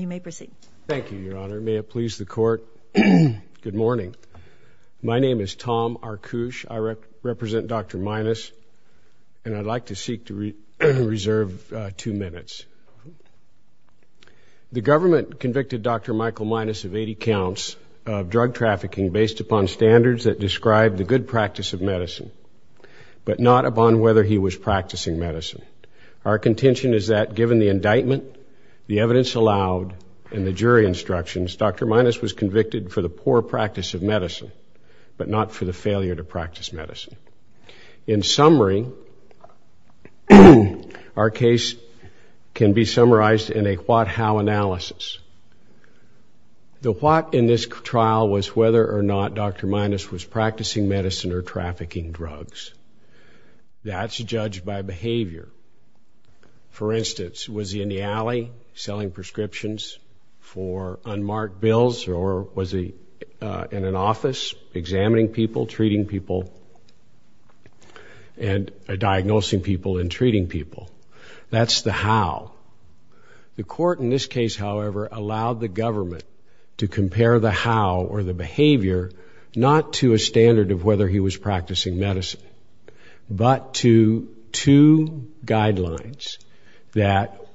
You may proceed. Thank you, Your Honor. May it please the court. Good morning. My name is Tom Arkush. I represent Dr. Minas and I'd like to seek to reserve two minutes. The government convicted Dr. Michael Minas of 80 counts of drug trafficking based upon standards that describe the good practice of medicine, but not upon whether he was practicing medicine. Our contention is that given the indictment, the evidence allowed, and the jury instructions, Dr. Minas was convicted for the poor practice of medicine, but not for the failure to practice medicine. In summary, our case can be summarized in a what-how analysis. The what in this trial was whether or not Dr. Minas was practicing medicine. Was he in the alley selling prescriptions for unmarked bills or was he in an office examining people, treating people, and diagnosing people and treating people? That's the how. The court in this case, however, allowed the government to compare the how or the behavior not to a standard of whether he was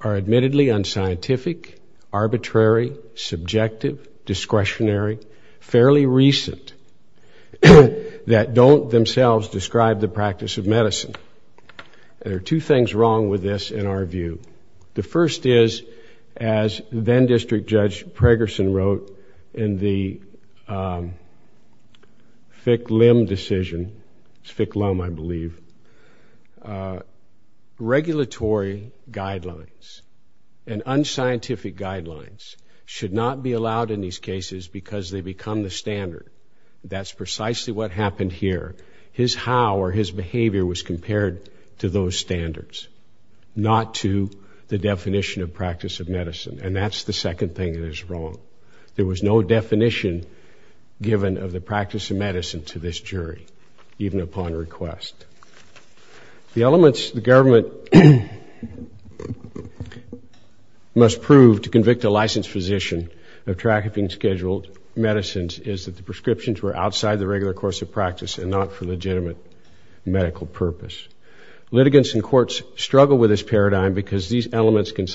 are admittedly unscientific, arbitrary, subjective, discretionary, fairly recent, that don't themselves describe the practice of medicine. There are two things wrong with this in our view. The first is, as then district judge Pregerson wrote in the Fick-Lim decision, it's Fick-Lim, I believe, regulatory guidelines and unscientific guidelines should not be allowed in these cases because they become the standard. That's precisely what happened here. His how or his behavior was wrong. There was no definition given of the practice of medicine to this jury, even upon request. The elements the government must prove to convict a licensed physician of trafficking scheduled medicines is that the prescriptions were outside the regular course of practice and not for legitimate medical purpose. Litigants in courts struggle with this paradigm because these elements can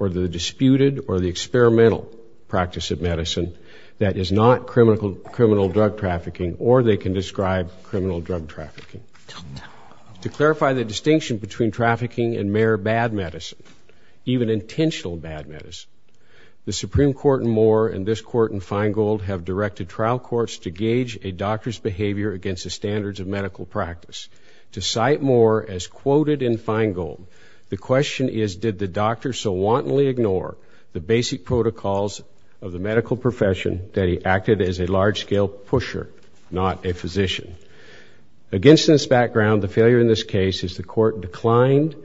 or the disputed or the experimental practice of medicine that is not criminal drug trafficking or they can describe criminal drug trafficking. To clarify the distinction between trafficking and mere bad medicine, even intentional bad medicine, the Supreme Court in Moore and this court in Feingold have directed trial courts to gauge a doctor's behavior against the standards of medical practice. To cite Moore as quoted in Feingold, the question is did the doctor so wantonly ignore the basic protocols of the medical profession that he acted as a large-scale pusher, not a physician. Against this background, the failure in this case is the court declined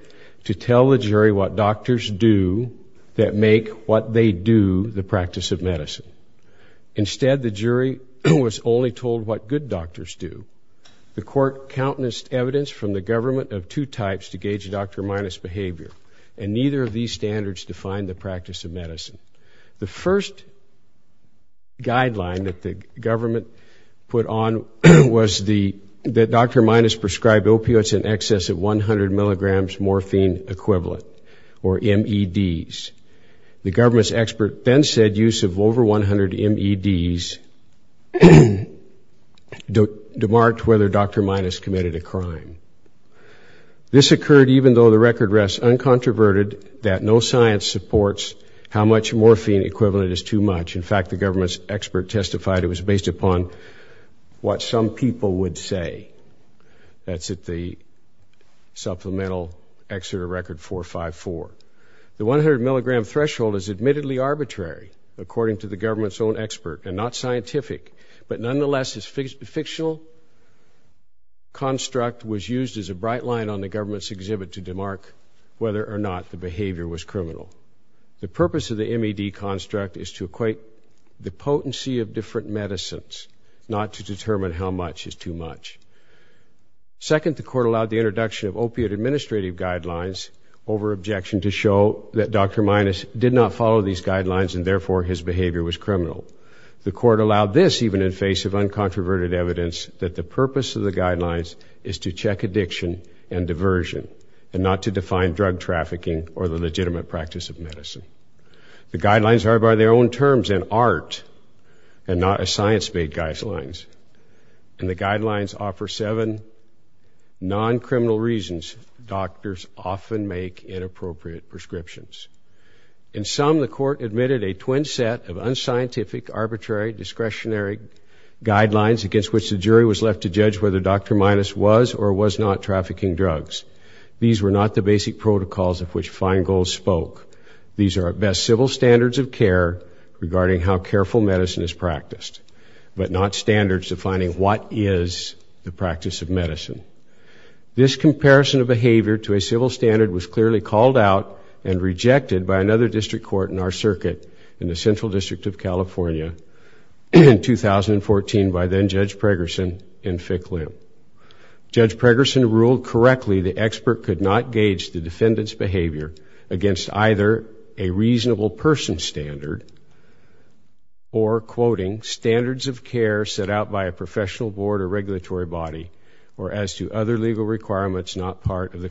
to tell the jury what doctors do that make what they do the practice of medicine. Instead, the jury was only told what good doctors do. The court countenanced evidence from the government of two types to gauge Dr. Minus' behavior and neither of these standards define the practice of medicine. The first guideline that the government put on was that Dr. Minus prescribed opioids in excess of 100 milligrams morphine equivalent or MEDs. The This occurred even though the record rests uncontroverted that no science supports how much morphine equivalent is too much. In fact, the government's expert testified it was based upon what some people would say. That's at the supplemental Exeter Record 454. The 100 milligram was used as a bright line on the government's exhibit to demarc whether or not the behavior was criminal. The purpose of the MED construct is to equate the potency of different medicines, not to determine how much is too much. Second, the court allowed the introduction of opioid administrative guidelines over objection to show that Dr. Minus did not follow these guidelines and therefore his behavior was criminal. The court allowed this even in face of uncontroverted evidence that the purpose of the guidelines is to check addiction and diversion and not to define drug trafficking or the legitimate practice of medicine. The guidelines are by their own terms an art and not a science-made guidelines. And the guidelines offer seven non-criminal reasons doctors often make inappropriate prescriptions. In some, the court admitted a twin set of discretionary guidelines against which the jury was left to judge whether Dr. Minus was or was not trafficking drugs. These were not the basic protocols of which Feingold spoke. These are at best civil standards of care regarding how careful medicine is practiced, but not standards defining what is the practice of medicine. This comparison of behavior to a civil standard was clearly called out and rejected by another district court in our in 2014 by then Judge Pregerson and Fick Lim. Judge Pregerson ruled correctly the expert could not gauge the defendant's behavior against either a reasonable person standard or, quoting, standards of care set out by a professional board or regulatory body or as to other legal requirements not part of the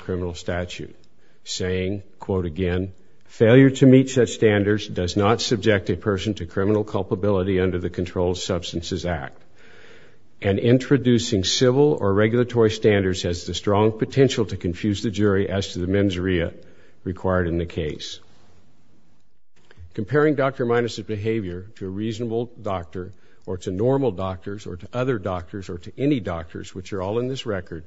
Substances Act. And introducing civil or regulatory standards has the strong potential to confuse the jury as to the mens rea required in the case. Comparing Dr. Minus's behavior to a reasonable doctor or to normal doctors or to other doctors or to any doctors, which are all in this record,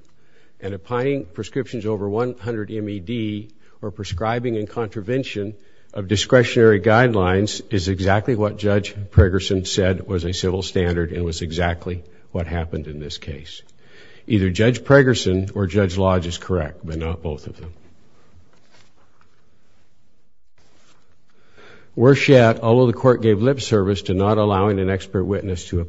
and applying prescriptions over 100 MED or prescribing and contravention of discretionary guidelines is exactly what Judge Pregerson said was a civil standard and was exactly what happened in this case. Either Judge Pregerson or Judge Lodge is correct, but not both of them. Worse yet, although the court gave lip service to not allowing an expert witness to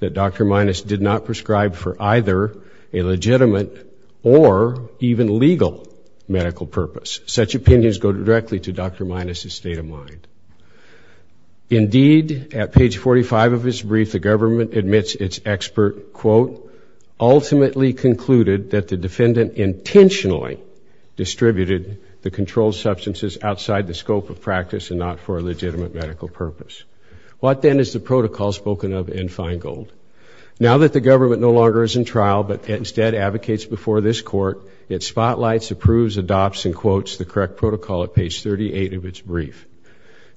that Dr. Minus did not prescribe for either a legitimate or even legal medical purpose. Such opinions go directly to Dr. Minus's state of mind. Indeed, at page 45 of his brief, the government admits its expert, quote, ultimately concluded that the defendant intentionally distributed the controlled substances outside the scope of practice and not for a Now that the government no longer is in trial but instead advocates before this court, it spotlights, approves, adopts, and quotes the correct protocol at page 38 of its brief.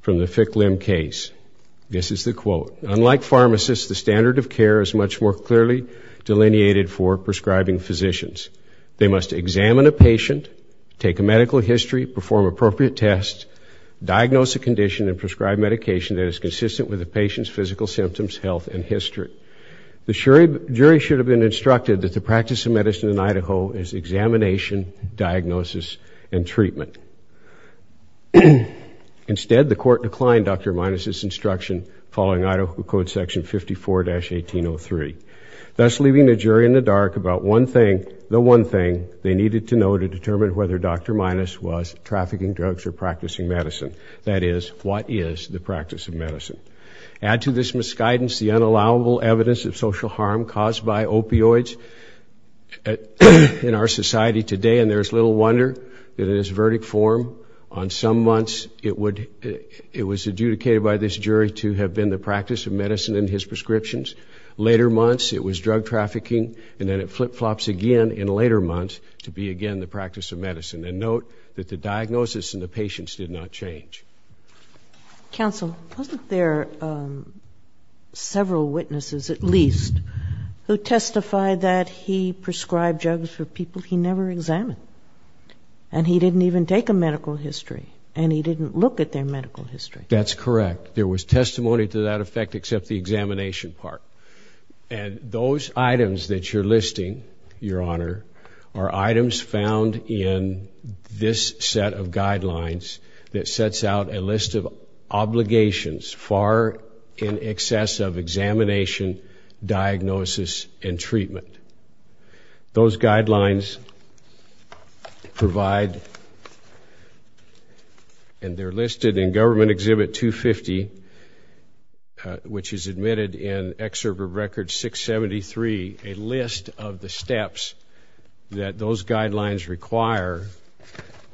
From the Fick-Lim case, this is the quote, The jury should have been instructed that the practice of medicine in Idaho is examination, diagnosis, and treatment. Instead, the court declined Dr. Minus's instruction following Idaho Code Section 54-1803, thus leaving the jury in the dark about one thing, the one thing they needed to know to determine whether Dr. Minus was trafficking drugs or practicing medicine, that is, what is the practice of medicine. Add to this misguidance the unallowable evidence of social harm caused by opioids in our society today, and there is little wonder that in its verdict form on some months it was adjudicated by this jury to have been the practice of medicine in his prescriptions. Later months, it was drug trafficking, and then it flip-flops again in later months to be again the practice of medicine. And note that the diagnosis in the patients did not change. Counsel, wasn't there several witnesses, at least, who testified that he prescribed drugs for people he never examined, and he didn't even take a medical history, and he didn't look at their medical history? That's correct. There was testimony to that effect except the examination part. And those items that you're listing, Your Honor, are items found in this set of guidelines that sets out a list of obligations far in excess of examination, diagnosis, and treatment. Those guidelines provide, and they're listed in Government Exhibit 250, which is admitted in Excerpt of Record 673, a list of the steps that those guidelines require,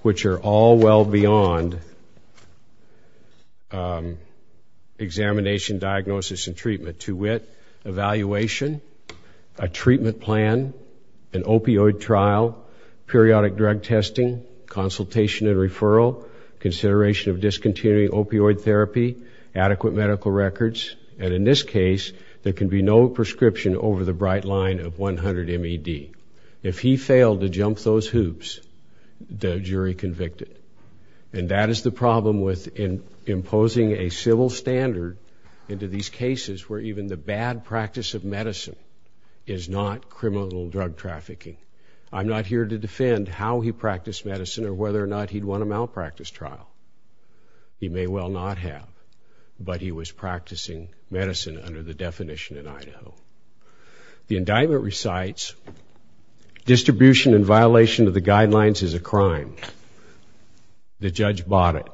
which are all well beyond examination, diagnosis, and treatment. To wit, evaluation, a treatment plan, an opioid trial, periodic drug testing, consultation and referral, consideration of discontinuing opioid therapy, adequate medical records, and in this case, there can be no prescription over the bright line of 100 MED. If he failed to jump those hoops, the jury convicted. And that is the problem with imposing a civil standard into these cases where even the bad practice of medicine is not criminal drug trafficking. I'm not here to defend how he practiced medicine or whether or not he'd won a malpractice trial. He may well not have, but he was practicing medicine under the definition in Idaho. The indictment recites, distribution and violation of the guidelines is a crime. The judge bought it.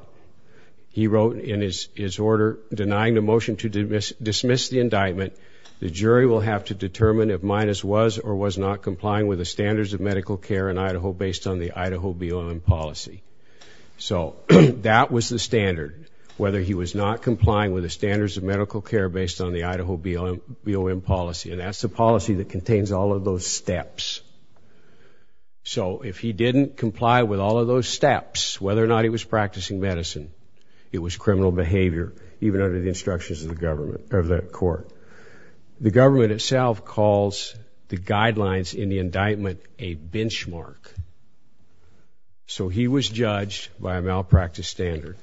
He wrote in his order, denying the motion to dismiss the indictment, the jury will have to determine if Minas was or was not complying with the standards of medical care in Idaho based on the Idaho BOM policy. So that was the standard, whether he was not complying with the standards of medical care based on the Idaho BOM policy. And that's the policy that contains all of those steps. So if he didn't comply with all of those steps, whether or not he was practicing medicine, it was criminal behavior, even under the instructions of the government, of the court. The government itself calls the guidelines in the indictment a benchmark. So he was judged by a malpractice standard.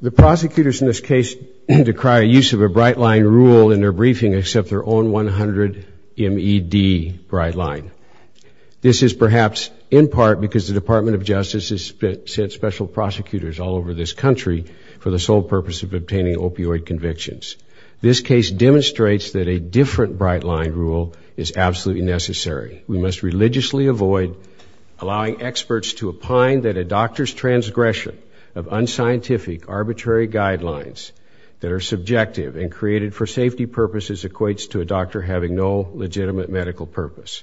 The prosecutors in this case decry a use of a bright line rule in their briefing except their own 100 MED bright line. This is perhaps in part because the Department of Justice has sent special prosecutors all over this country for the sole purpose of obtaining opioid convictions. This case demonstrates that a different bright line rule is absolutely necessary. We must religiously avoid allowing experts to opine that a doctor's transgression of unscientific, arbitrary guidelines that are subjective and created for safety purposes equates to a doctor having no legitimate medical purpose.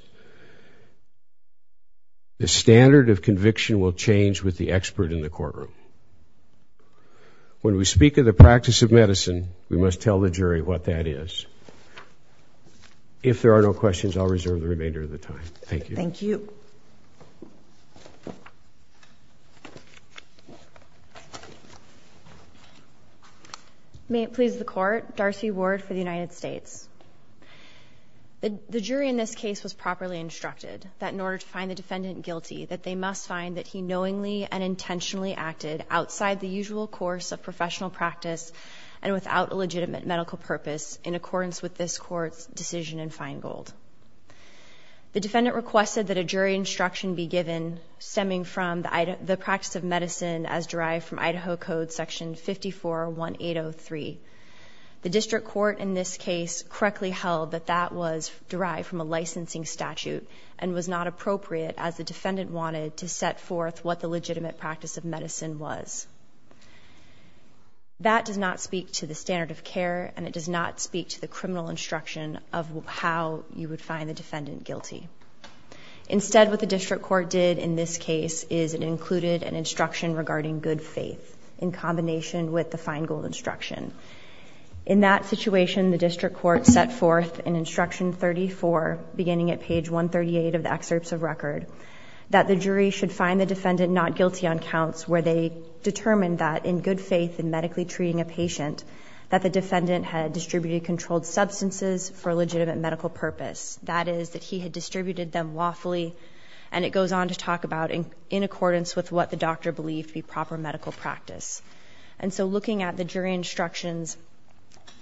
The standard of conviction will change with the expert in the courtroom. When we speak of the practice of medicine, we must tell the jury what that is. If there are no questions, I'll reserve the remainder of the time. Thank you. May it please the court, Darcy Ward for the United States. The jury in this case was properly instructed that in order to find the defendant guilty, that they must find that he knowingly and intentionally acted outside the usual course of professional practice and without a legitimate medical purpose in accordance with this court's decision in Feingold. The defendant requested that a jury instruction be given stemming from the practice of medicine as derived from Idaho Code section 54-1803. The district court in this case correctly held that that was derived from a licensing statute and was not appropriate as the defendant wanted to set forth what the legitimate practice of medicine was. That does not speak to the standard of care and it does not speak to the criminal instruction of how you would find the defendant guilty. Instead, what the district court did in this case is it included an instruction regarding good faith in combination with the Feingold instruction. In that situation, the district court set forth in instruction 34, beginning at page 138 of the excerpts of record, that the jury should find the defendant not guilty on counts where they determined that in good faith in medically treating a patient, that the defendant had distributed controlled substances for a legitimate medical purpose. That is, that he had distributed them lawfully and it goes on to talk about in accordance with what the doctor believed to be proper medical practice. And so looking at the jury instructions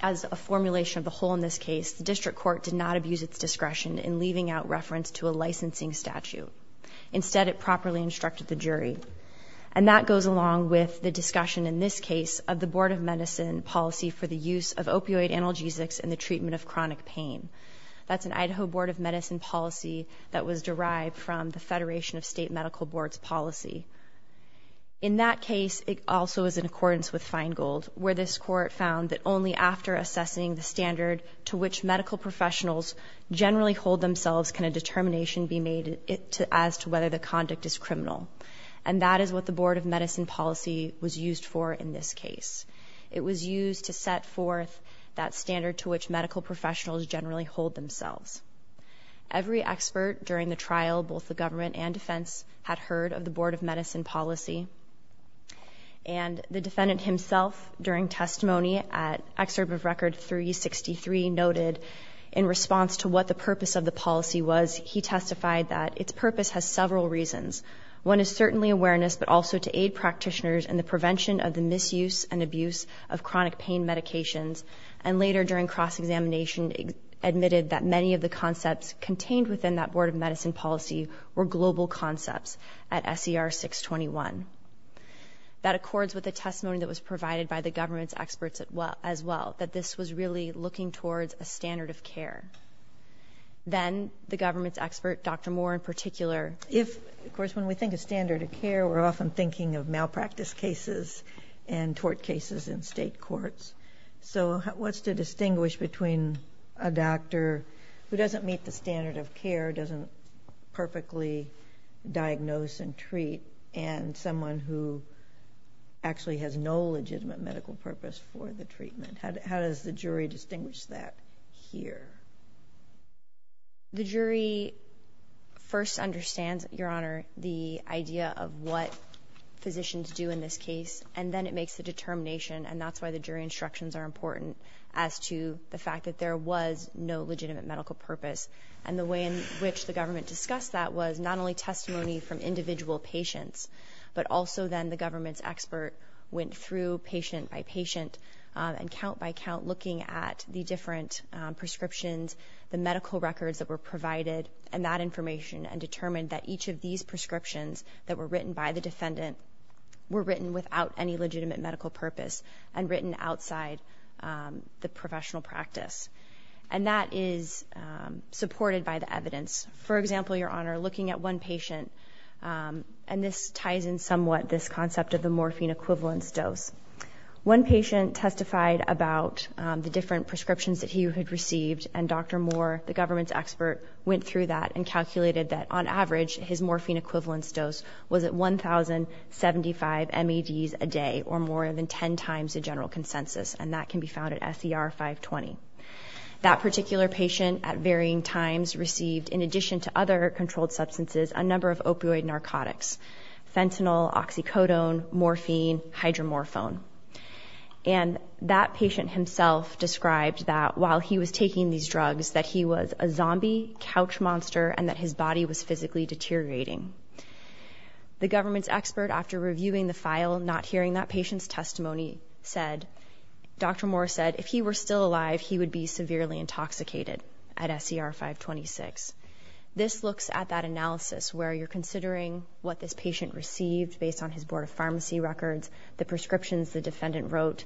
as a formulation of the whole in this case, the district court did not abuse its discretion in leaving out reference to a licensing statute. Instead, it properly instructed the jury. And that goes along with the discussion in this case of the Board of Medicine policy for the use of opioid analgesics in the treatment of chronic pain. That's an Idaho Board of Medicine policy that was derived from the Federation of State Medical Boards policy. In that case, it also is in accordance with Feingold, where this court found that only after assessing the standard to which medical professionals generally hold themselves can a determination be made as to whether the conduct is criminal. And that is what the Board of Medicine policy was used for in this case. It was used to set forth that standard to which medical professionals generally hold themselves. Every expert during the trial, both the government and defense, had heard of the Board of Medicine policy. And the defendant himself, during testimony at Excerpt of Record 363, noted in response to what the purpose of the policy was, he testified that its purpose has several reasons. One is certainly awareness, but also to aid practitioners in the prevention of the misuse and abuse of chronic pain medications. And later, during cross-examination, admitted that many of the concepts contained within that Board of Medicine policy were global concepts at SCR 621. That accords with the testimony that was provided by the government's experts as well, that this was really looking towards a standard of care. Then, the government's expert, Dr. Moore in particular... Of course, when we think of standard of care, we're often thinking of malpractice cases and tort cases in state courts. So, what's to distinguish between a doctor who doesn't meet the standard of care, doesn't perfectly diagnose and treat, and someone who actually has no legitimate medical purpose for the treatment? How does the jury distinguish that here? The jury first understands, Your Honor, the idea of what physicians do in this case, and then it makes the determination, and that's why the jury instructions are important, as to the fact that there was no legitimate medical purpose. And the way in which the government discussed that was not only testimony from individual patients, but also then the government's expert went through patient by patient, and count by count, looking at the different prescriptions, the medical records that were provided, and that information, and determined that each of these prescriptions that were written by the defendant were written without any legitimate medical purpose, and written outside the professional practice. And that is supported by the evidence. For example, Your Honor, looking at one patient, and this ties in somewhat this concept of the morphine equivalence dose. One patient testified about the different prescriptions that he had received, and Dr. Moore, the government's expert, went through that and calculated that, on average, his morphine equivalence dose was at 1,075 MEDs a day, or more than 10 times the general consensus, and that can be found at SER 520. That particular patient, at varying times, received, in addition to other controlled substances, a number of opioid narcotics. Fentanyl, oxycodone, morphine, hydromorphone. And that patient himself described that, while he was taking these drugs, that he was a zombie, couch monster, and that his body was physically deteriorating. The government's expert, after reviewing the file, not hearing that patient's testimony, said, Dr. Moore said, if he were still alive, he would be severely intoxicated, at SER 526. This looks at that analysis, where you're considering what this patient received, based on his Board of Pharmacy records, the prescriptions the defendant wrote,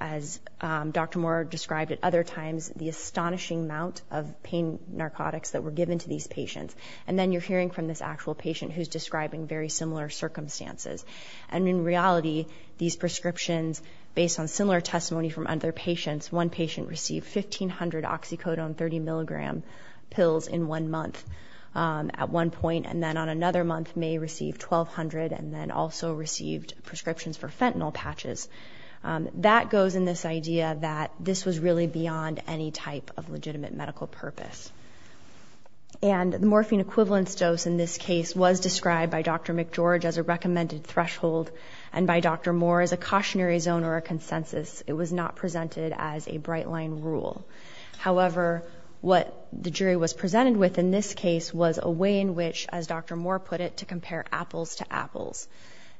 as Dr. Moore described at other times, the astonishing amount of pain narcotics that were given to these patients. And then you're hearing from this actual patient, who's describing very similar circumstances. And in reality, these prescriptions, based on similar testimony from other patients, one patient received 1,500 oxycodone 30 mg pills in one month, at one point, and then on another month, may receive 1,200, and then also received prescriptions for fentanyl patches. That goes in this idea that this was really beyond any type of legitimate medical purpose. And the morphine equivalence dose in this case was described by Dr. McGeorge as a recommended threshold, and by Dr. Moore as a cautionary zone or a consensus. It was not presented as a bright line rule. However, what the jury was presented with in this case was a way in which, as Dr. Moore put it, to compare apples to apples.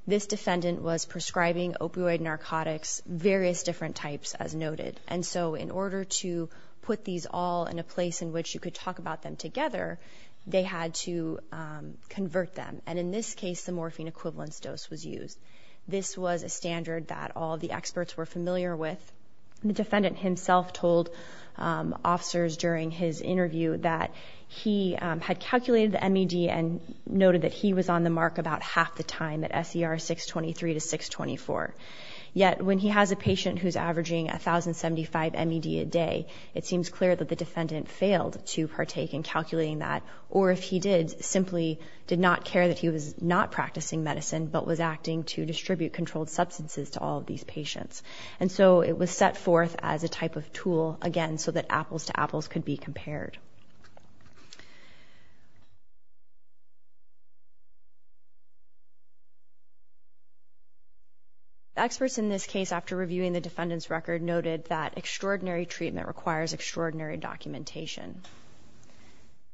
This defendant was prescribing opioid narcotics, various different types, as noted. And so in order to put these all in a place in which you could talk about them together, they had to convert them. And in this case, the morphine equivalence dose was used. This was a standard that all the experts were familiar with. The defendant himself told officers during his interview that he had calculated the MED and noted that he was on the mark about half the time at SER 623 to 624. Yet when he has a patient who's averaging 1,075 MED a day, it seems clear that the defendant failed to partake in calculating that, or if he did, simply did not care that he was not practicing medicine but was acting to distribute controlled substances to all of these patients. And so it was set forth as a type of tool, again, so that apples to apples could be compared. The experts in this case, after reviewing the defendant's record, noted that extraordinary treatment requires extraordinary documentation.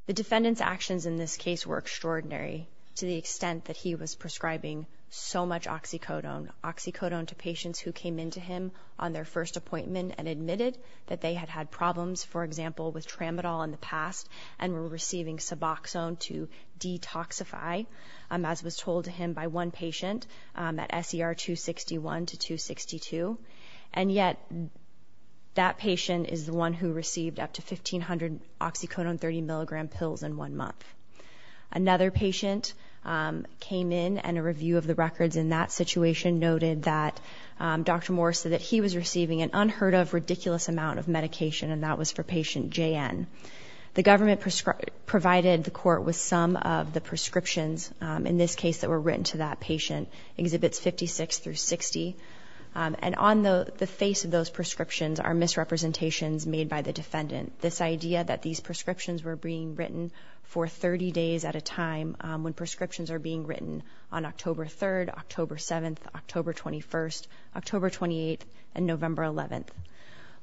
The defendant's actions in this case were extraordinary to the extent that he was prescribing so much oxycodone, oxycodone to patients who came in to him on their first appointment and admitted that they had had problems, for example, with tramadol in the past and were receiving suboxone to detoxify, as was told to him by one patient at SER 261 to 262. And yet that patient is the one who received up to 1,500 oxycodone 30 milligram pills in one month. Another patient came in and a review of the records in that situation noted that Dr. Morris said that he was receiving an unheard of ridiculous amount of medication and that was for patient JN. The government provided the court with some of the prescriptions in this case that were written to that patient, Exhibits 56 through 60. And on the face of those prescriptions are misrepresentations made by the defendant. This idea that these prescriptions were being written for 30 days at a time when prescriptions are being written on October 3rd, October 7th, October 21st, October 28th, and November 11th.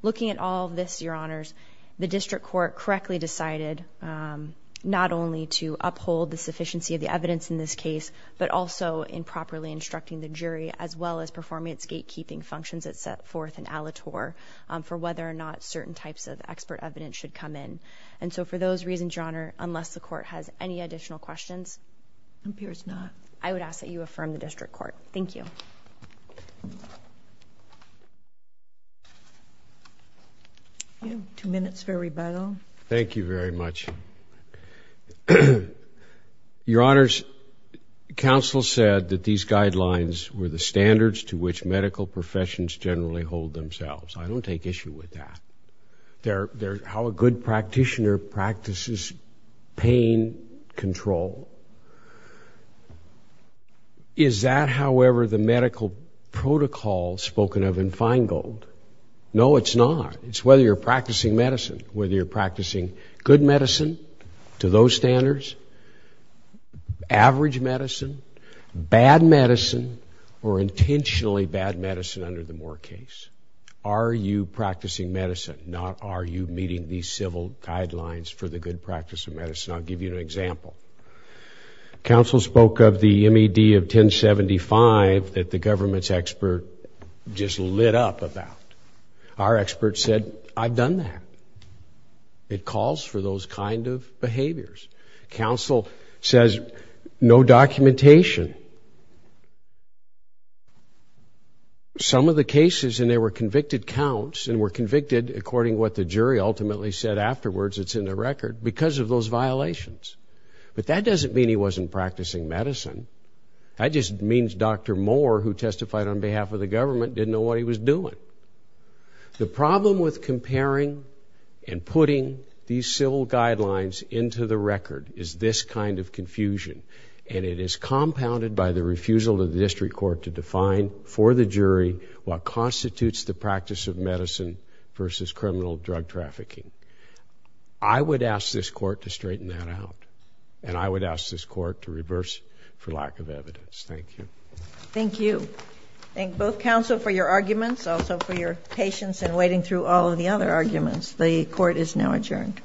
Looking at all this, your honors, the district court correctly decided not only to uphold the sufficiency of the evidence in this case, but also in properly instructing the jury as well as performing its gatekeeping functions that set forth an aleator for whether or not certain types of expert evidence should come in. And so for those reasons, your honor, unless the court has any additional questions. It appears not. I would ask that you affirm the district court. Thank you. Two minutes for rebuttal. Thank you very much. Your honors, counsel said that these guidelines were the standards to which medical professions generally hold themselves. I don't take issue with that. They're how a good practitioner practices pain control. Is that, however, the medical protocol spoken of in Feingold? No, it's not. It's whether you're practicing medicine, whether you're practicing good medicine to those standards, average medicine, bad medicine, or intentionally bad medicine under the Moore case. Are you practicing medicine, not are you meeting these civil guidelines for the good practice of medicine? I'll give you an example. Counsel spoke of the MED of 1075 that the government's expert just lit up about. Our expert said, I've done that. It calls for those kind of behaviors. Counsel says no documentation. Some of the cases, and there were convicted counts and were convicted according to what the jury ultimately said afterwards, it's in the record, because of those violations. But that doesn't mean he wasn't practicing medicine. That just means Dr. Moore, who testified on behalf of the government, didn't know what he was doing. The problem with comparing and putting these civil guidelines into the record is this kind of confusion. And it is compounded by the refusal of the district court to define for the jury what constitutes the practice of medicine versus criminal drug trafficking. I would ask this court to straighten that out. And I would ask this court to reverse it for lack of evidence. Thank you. Thank you. Thank both counsel for your arguments, also for your patience in wading through all of the other arguments. The court is now adjourned.